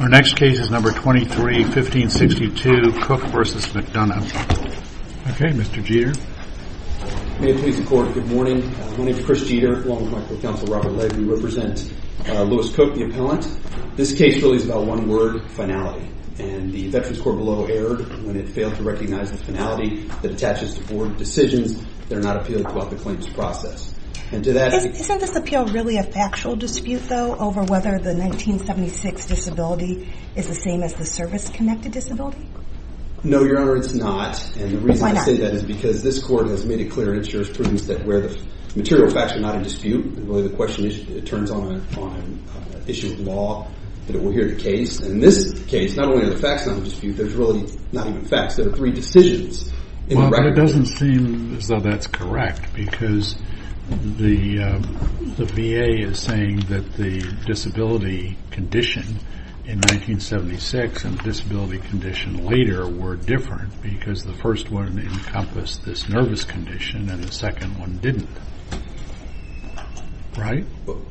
Our next case is number 23, 1562, Cooke v. McDonough. Okay, Mr. Jeter. May it please the court, good morning. My name is Chris Jeter, along with my co-counsel Robert Legge. We represent Lewis Cooke, the appellant. This case really is about one word, finality. And the Veterans Corps below erred when it failed to recognize the finality that attaches to board decisions that are not appealed throughout the claims process. And to that- Isn't this appeal really a factual dispute, though, over whether the 1976 disability is the same as the service-connected disability? No, Your Honor, it's not. And the reason I say that is because this court has made it clear and it sure as proves that where the material facts are not a dispute, really the question is, it turns on an issue of law that it will hear the case. And in this case, not only are the facts not a dispute, there's really not even facts. There are three decisions in the record. Well, but it doesn't seem as though that's correct because the VA is saying that the disability condition in 1976 and the disability condition later were different because the first one encompassed this nervous condition and the second one didn't. Right?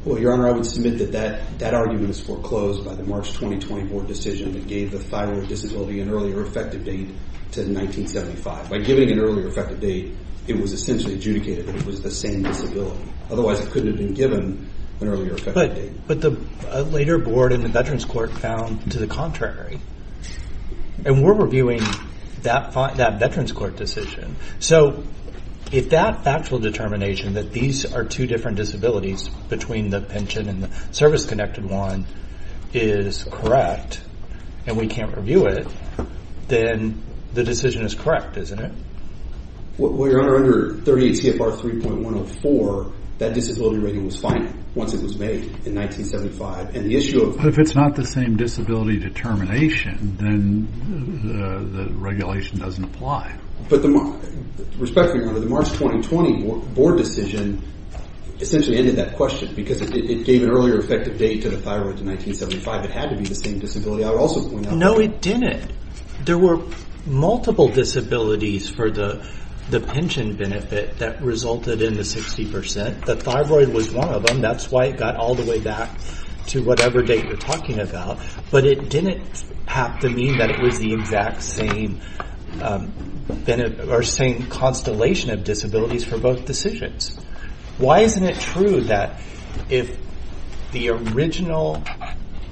Well, Your Honor, I would submit that that argument is foreclosed by the March 2020 board decision that gave the thyroid disability an earlier effective date to 1975. By giving an earlier effective date, it was essentially adjudicated that it was the same disability. Otherwise, it couldn't have been given an earlier effective date. But the later board in the Veterans Court found to the contrary. And we're reviewing that Veterans Court decision. So if that factual determination that these are two different disabilities between the pension and the service-connected one is correct and we can't review it, then the decision is correct, isn't it? Well, Your Honor, under 38 CFR 3.104, that disability rating was finite once it was made in 1975. And the issue of... But if it's not the same disability determination, then the regulation doesn't apply. But the...respectfully, Your Honor, the March 2020 board decision essentially ended that question because it gave an earlier effective date to the thyroid to 1975. It had to be the same disability. No, it didn't. There were multiple disabilities for the pension benefit that resulted in the 60%. The thyroid was one of them. That's why it got all the way back to whatever date you're talking about. But it didn't have to mean that it was the exact same constellation of disabilities for both decisions. Why isn't it true that if the original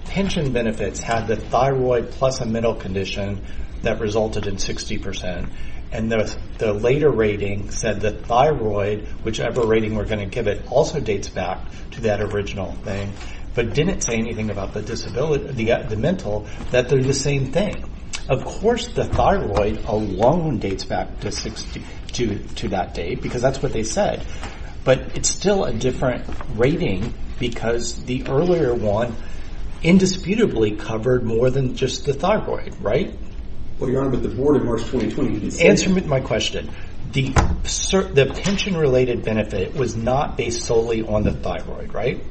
pension benefits had the thyroid plus a mental condition that resulted in 60% and the later rating said the thyroid, whichever rating we're going to give it, also dates back to that original thing, but didn't say anything about the mental, that they're the same thing? Of course, the thyroid alone dates back to that date because that's what they said. But it's still a different rating because the earlier one indisputably covered more than just the thyroid, right? Well, Your Honor, but the board in March 2020... Answer my question. The pension-related benefit was not based solely on the thyroid, right?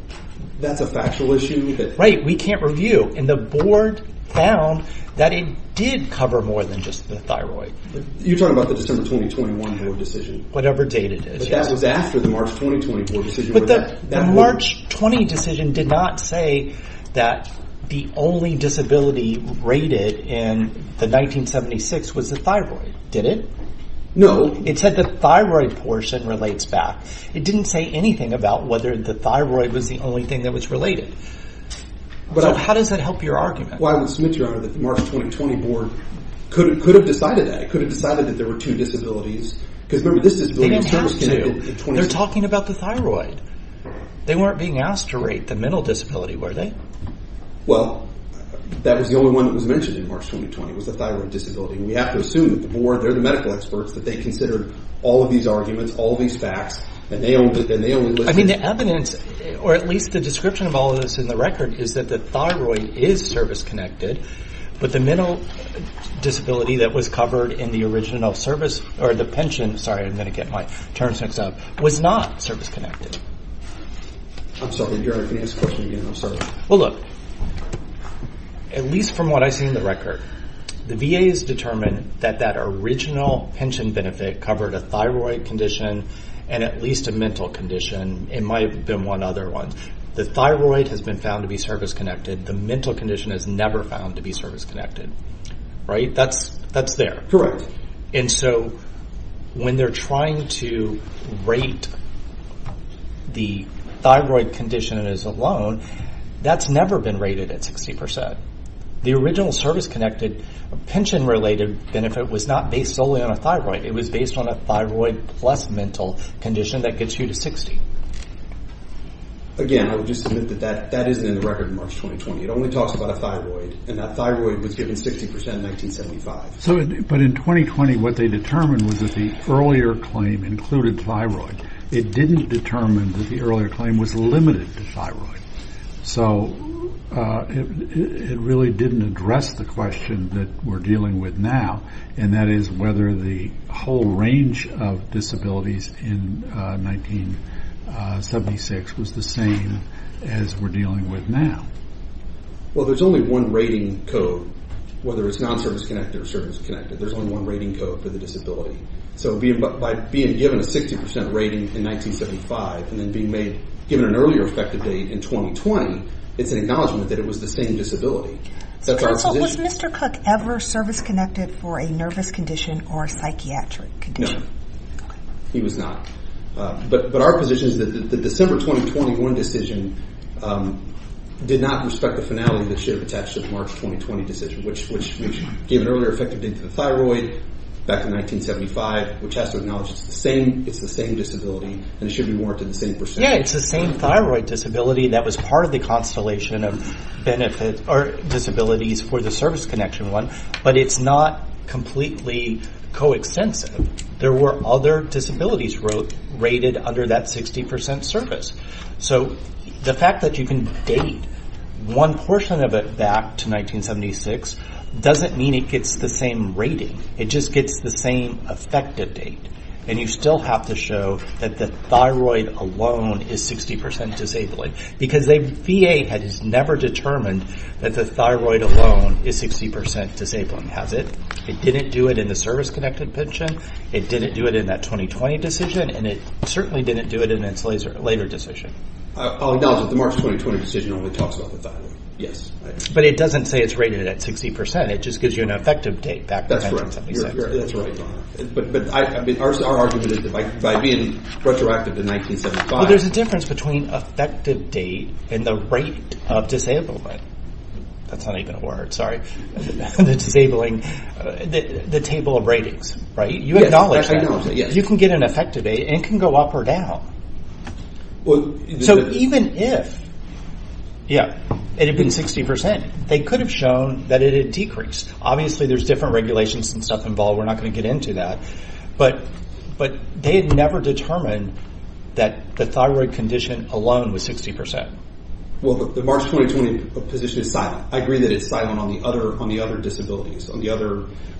That's a factual issue that... Right. We can't review. And the board found that it did cover more than just the thyroid. You're talking about the December 2021 board decision? Whatever date it is, yes. But that was after the March 2020 board decision? But the March 20 decision did not say that the only disability rated in the 1976 was the thyroid, did it? No. It said the thyroid portion relates back. It didn't say anything about whether the thyroid was the only thing that was related. So how does that help your argument? Well, I would submit, Your Honor, that the March 2020 board could have decided that. It could have decided that there were two disabilities. Because remember, this disability... They didn't have to. They're talking about the thyroid. They weren't being asked to rate the mental disability, were they? Well, that was the only one that was mentioned in March 2020 was the thyroid disability. And we have to assume that the board, they're the medical experts, that they considered all of these arguments, all these facts, and they only listed... I mean, the evidence, or at least the description of all of this in the record, is that the thyroid is service-connected, but the mental disability that was covered in the original service, or the pension, sorry, I'm going to get my terms mixed up, was not service-connected. I'm sorry, Your Honor, can you ask the question again? I'm sorry. Well, look, at least from what I see in the record, the VA has determined that that original pension benefit covered a thyroid condition and at least a mental condition. It might have been one other one. The thyroid has been found to be service-connected. The mental condition is never found to be service-connected, right? That's there. And so when they're trying to rate the thyroid condition as alone, that's never been rated at 60%. The original service-connected pension-related benefit was not based solely on a thyroid. It was based on a thyroid plus mental condition that gets you to 60. Again, I would just submit that that isn't in the record in March 2020. It only talks about a thyroid, and that thyroid was given 60% in 1975. So, but in 2020, what they determined was that the earlier claim included thyroid. It didn't determine that the earlier claim was limited to thyroid. So, it really didn't address the question that we're dealing with now, and that is whether the whole range of disabilities in 1976 was the same as we're dealing with now. Well, there's only one rating code, whether it's non-service-connected or service-connected. There's only one rating code for the disability. So, by being given a 60% rating in 1975 and then being made, given an earlier effective date in 2020, it's an acknowledgment that it was the same disability. So, first of all, was Mr. Cook ever service-connected for a nervous condition or psychiatric condition? No, he was not. But our position is that the December 2021 decision did not respect the finality that should have attached to the March 2020 decision, which gave an earlier effective date to the thyroid back in 1975, which has to acknowledge it's the same disability, and it should be warranted the same percentage. Yeah, it's the same thyroid disability that was part of the constellation of benefit, or disabilities for the service-connection one, but it's not completely co-extensive. There were other disabilities rated under that 60% service. So, the fact that you can date one portion of it back to 1976 doesn't mean it gets the same rating. It just gets the same effective date, and you still have to show that the thyroid alone is 60% disabled. Because the VA has never determined that the thyroid alone is 60% disabled. It didn't do it in the service-connected pension, it didn't do it in that 2020 decision, and it certainly didn't do it in its later decision. I'll acknowledge that the March 2020 decision only talks about the thyroid. Yes. But it doesn't say it's rated at 60%. It just gives you an effective date back to 1977. That's right. But our argument is that by being retroactive to 1975... There's a difference between effective date and the rate of disablement. That's not even a word, sorry. The table of ratings, right? You acknowledge that. You can get an effective date, and it can go up or down. So, even if it had been 60%, they could have shown that it had decreased. Obviously, there's different regulations and stuff involved. We're not going to get into that. But they had never determined that the thyroid condition alone was 60%. Well, the March 2020 position is silent. I agree that it's silent on the other disabilities.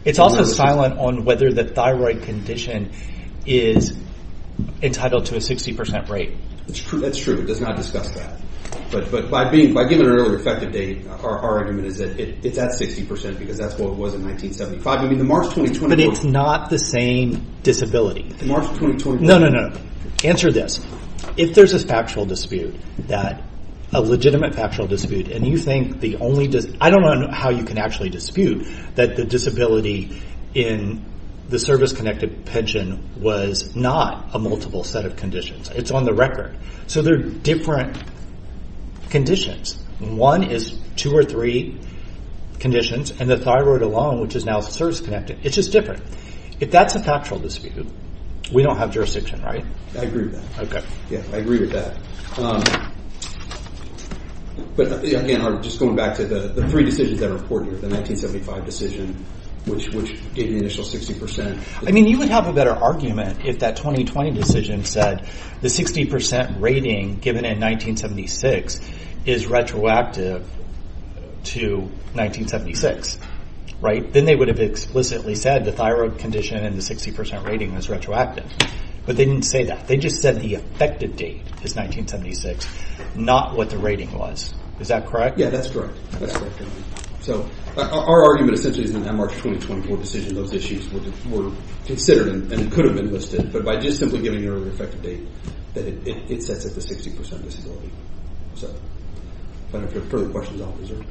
It's also silent on whether the thyroid condition is entitled to a 60% rate. That's true. It does not discuss that. But by giving an earlier effective date, our argument is that it's at 60% because that's what it was in 1975. But it's not the same disability. No, no, no. Answer this. If there's a factual dispute, a legitimate factual dispute, and you think the only... I don't know how you can actually dispute that the disability in the service-connected pension was not a multiple set of conditions. It's on the record. So, there are different conditions. One is two or three conditions. And the thyroid alone, which is now service-connected, it's just different. If that's a factual dispute, we don't have jurisdiction, right? I agree with that. Yeah, I agree with that. But, again, just going back to the three decisions that are important, the 1975 decision, which gave the initial 60%. I mean, you would have a better argument if that 2020 decision said the 60% rating given in 1976 is retroactive to 1976, right? Then they would have explicitly said the thyroid condition and the 60% rating was retroactive. But they didn't say that. They just said the effective date is 1976, not what the rating was. Is that correct? Yeah, that's correct. That's correct. So, our argument essentially is in that March 2024 decision those issues were considered and could have been listed. But by just simply giving your effective date, it sets up the 60% disability. If there are further questions, I'll reserve.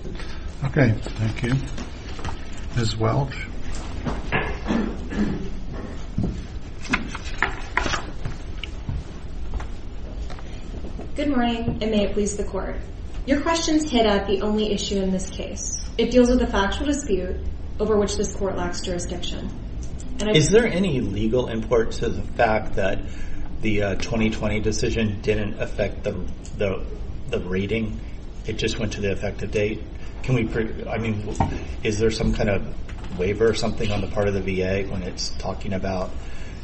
Okay, thank you. Ms. Welch? Good morning, and may it please the Court. Your questions hit at the only issue in this case. It deals with a factual dispute over which this Court lacks jurisdiction. Is there any legal import to the fact that the 2020 decision didn't affect the rating? It just went to the effective date? Can we, I mean, is there some kind of waiver or something on the part of the VA when it's talking about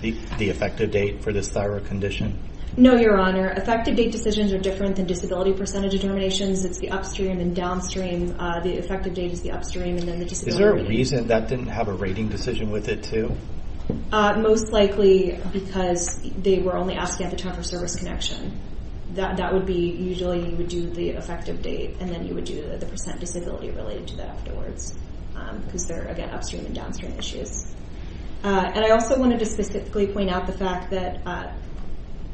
the effective date for this thyroid condition? No, Your Honor. Effective date decisions are different than disability percentage determinations. It's the upstream and downstream. The effective date is the upstream and then the disability. Is there a reason that didn't have a rating decision with it too? Most likely because they were only asking at the time for service connection. That would be, usually you would do the effective date and then you would do the percent disability related to that afterwards. Because they're, again, upstream and downstream issues. And I also wanted to specifically point out the fact that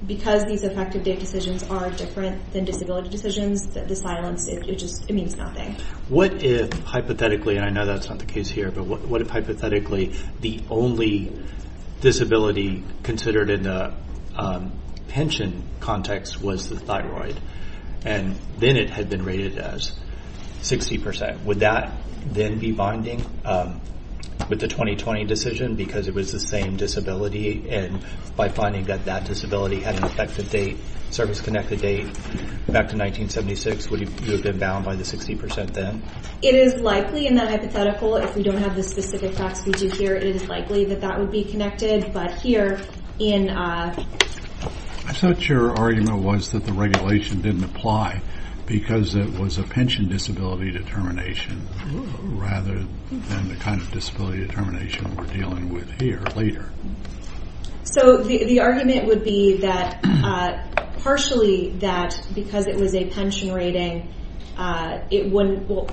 because these effective date decisions are different than disability decisions, the silence, it just, it means nothing. What if, hypothetically, and I know that's not the case here, but what if, hypothetically, the only disability considered in the pension context was the thyroid and then it had been rated as 60%? Would that then be binding with the 2020 decision because it was the same disability and by finding that that disability had an effective date, service connected date back to 1976, would it have been bound by the 60% then? It is likely in that hypothetical. If we don't have the specific facts we do here, it is likely that that would be connected. But here, in a... I thought your argument was that the regulation didn't apply because it was a pension disability determination rather than the kind of disability determination we're dealing with here later. So the argument would be that partially that because it was a pension rating, it wouldn't... Well,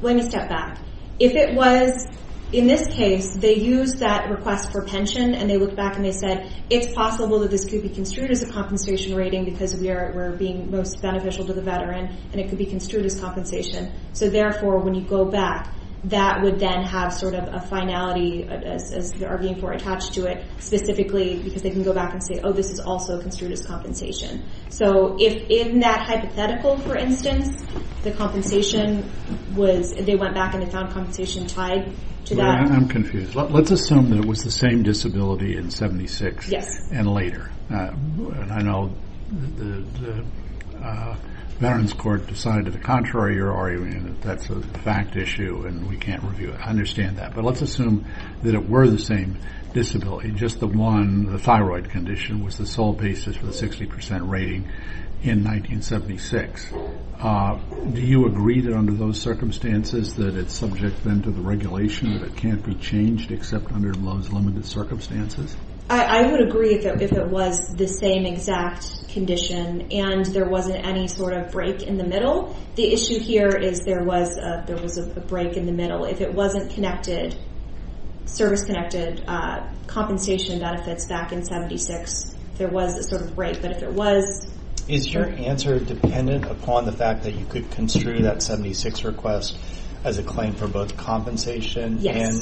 let me step back. If it was, in this case, they used that request for pension and they looked back and they said, it's possible that this could be construed as a compensation rating because we're being most beneficial to the veteran and it could be construed as compensation. So therefore, when you go back, that would then have sort of a finality as they are being more attached to it specifically because they can go back and say, oh, this is also construed as compensation. So in that hypothetical, for instance, the compensation was... They went back and they found compensation tied to that. I'm confused. Let's assume that it was the same disability in 76 and later. And I know the Veterans Court decided to the contrary your argument that that's a fact issue and we can't review it. I understand that. But let's assume that it were the same disability. Just the one, the thyroid condition was the sole basis for the 60% rating in 1976. Do you agree that under those circumstances that it's subject then to the regulation that it can't be changed except under those limited circumstances? I would agree if it was the same exact condition and there wasn't any sort of break in the middle. The issue here is there was a break in the middle. If it wasn't connected, service connected, compensation benefits back in 76, there was a sort of break. But if there was... Is your answer dependent upon the fact that you could construe that 76 request as a claim for both compensation and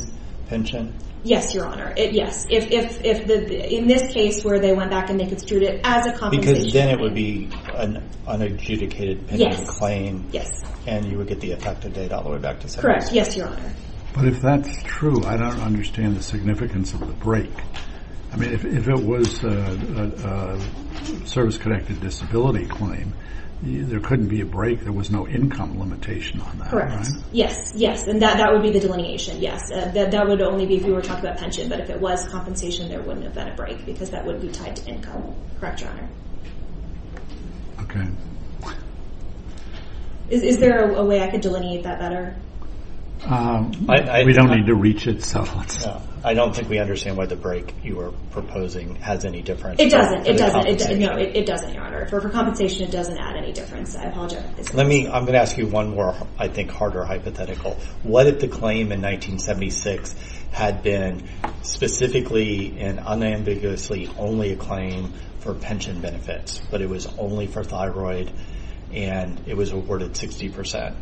pension? Yes, Your Honor. Yes. In this case where they went back and they construed it as a compensation... Because then it would be an unadjudicated pension claim and you would get the effective date all the way back to 76. Correct. Yes, Your Honor. But if that's true, I don't understand the significance of the break. I mean, if it was a service-connected disability claim, there couldn't be a break. There was no income limitation on that, right? Correct. Yes, yes. And that would be the delineation, yes. That would only be if you were talking about pension. But if it was compensation, there wouldn't have been a break because that would be tied to income. Correct, Your Honor. Okay. Is there a way I could delineate that better? We don't need to reach it, so... I don't think we understand why the break you were proposing has any difference. It doesn't. It doesn't. No, it doesn't, Your Honor. For compensation, it doesn't add any difference. I apologize. Let me... I'm going to ask you one more, I think, harder hypothetical. What if the claim in 1976 had been specifically and unambiguously only a claim for pension benefits, but it was only for thyroid and it was awarded 60%?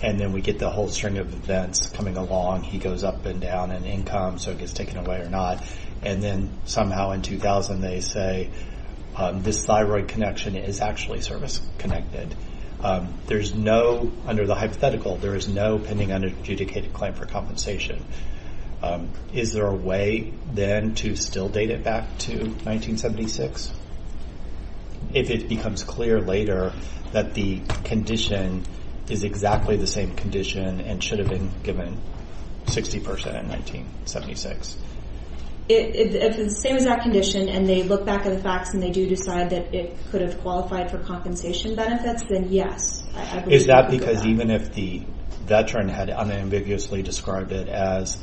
And then we get the whole string of events coming along. He goes up and down in income, so it gets taken away or not. And then somehow in 2000, they say this thyroid connection is actually service-connected. There's no... Under the hypothetical, there is no pending unadjudicated claim for compensation. Is there a way, then, to still date it back to 1976? If it becomes clear later that the condition is exactly the same condition and should have been given 60% in 1976? If it's the same exact condition and they look back at the facts and they do decide that it could have qualified for compensation benefits, then yes. Is that because even if the veteran had unambiguously described it as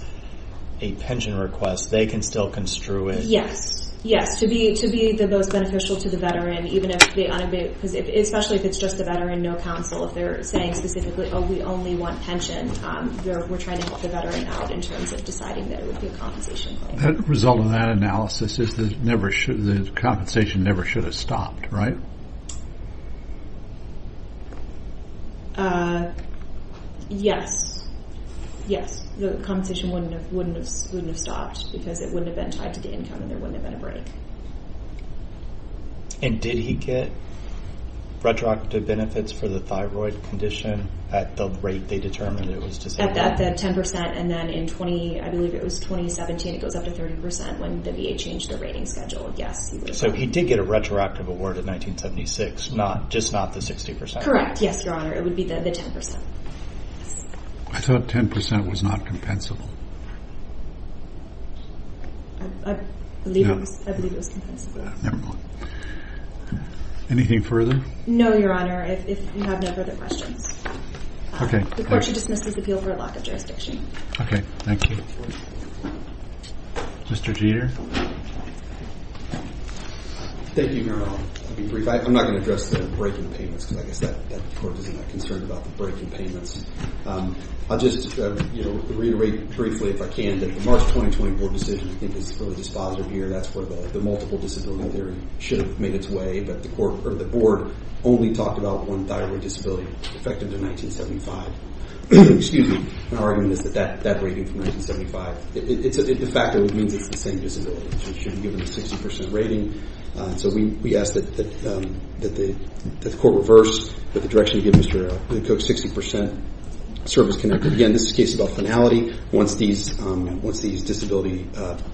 a pension request, they can still construe it? Yes. Yes. To be the most beneficial to the veteran even if they unambiguously... Especially if it's just the veteran, no counsel. If they're saying specifically, oh, we only want pension, we're trying to help the veteran out in terms of deciding that it would be a compensation claim. The result of that analysis is the compensation never should have stopped, right? Yes. Yes. The compensation wouldn't have stopped because it wouldn't have been tied to the income and there wouldn't have been a break. And did he get retroactive benefits for the thyroid condition at the rate they determined it was disabled? At the 10% and then in 20... I believe it was 2017 it goes up to 30% when the VA changed the rating schedule. Yes. So he did get a retroactive award in 1976, just not the 60%? Correct. Yes, Your Honor. It would be the 10%. I thought 10% was not compensable. I believe it was. No. I believe it was. Never mind. Anything further? No, Your Honor. If you have no further questions. Okay. The court should dismiss this appeal for a lack of jurisdiction. Okay. Thank you. Mr. Jeter. Thank you, Your Honor. I'll be brief. I'm not going to address the breaking payments because I guess that court is not concerned about the breaking payments. I'll just, you know, reiterate briefly if I can that the March 2020 board decision is really dispositive here. That's where the multiple disability theory should have made its way but the court or the board only talked about one thyroid disability effective to 1975. Excuse me. My argument is that that rating from 1975 it's a fact that it means it's the same disability. It should be given a 60% rating so we ask that the court reverse the direction to give Mr. Cook 60% service connected. Again, this is a case about finality. Once these disability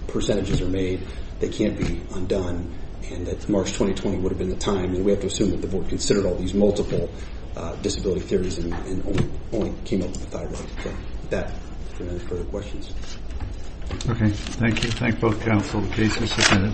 percentages are made they can't be undone and that March 2020 would have been the time and we have to assume that the board considered all these multiple disability theories and only came up with the thyroid. So with that I'll turn it over to questions. Okay. Thank you. Thank both counsel. The case is submitted.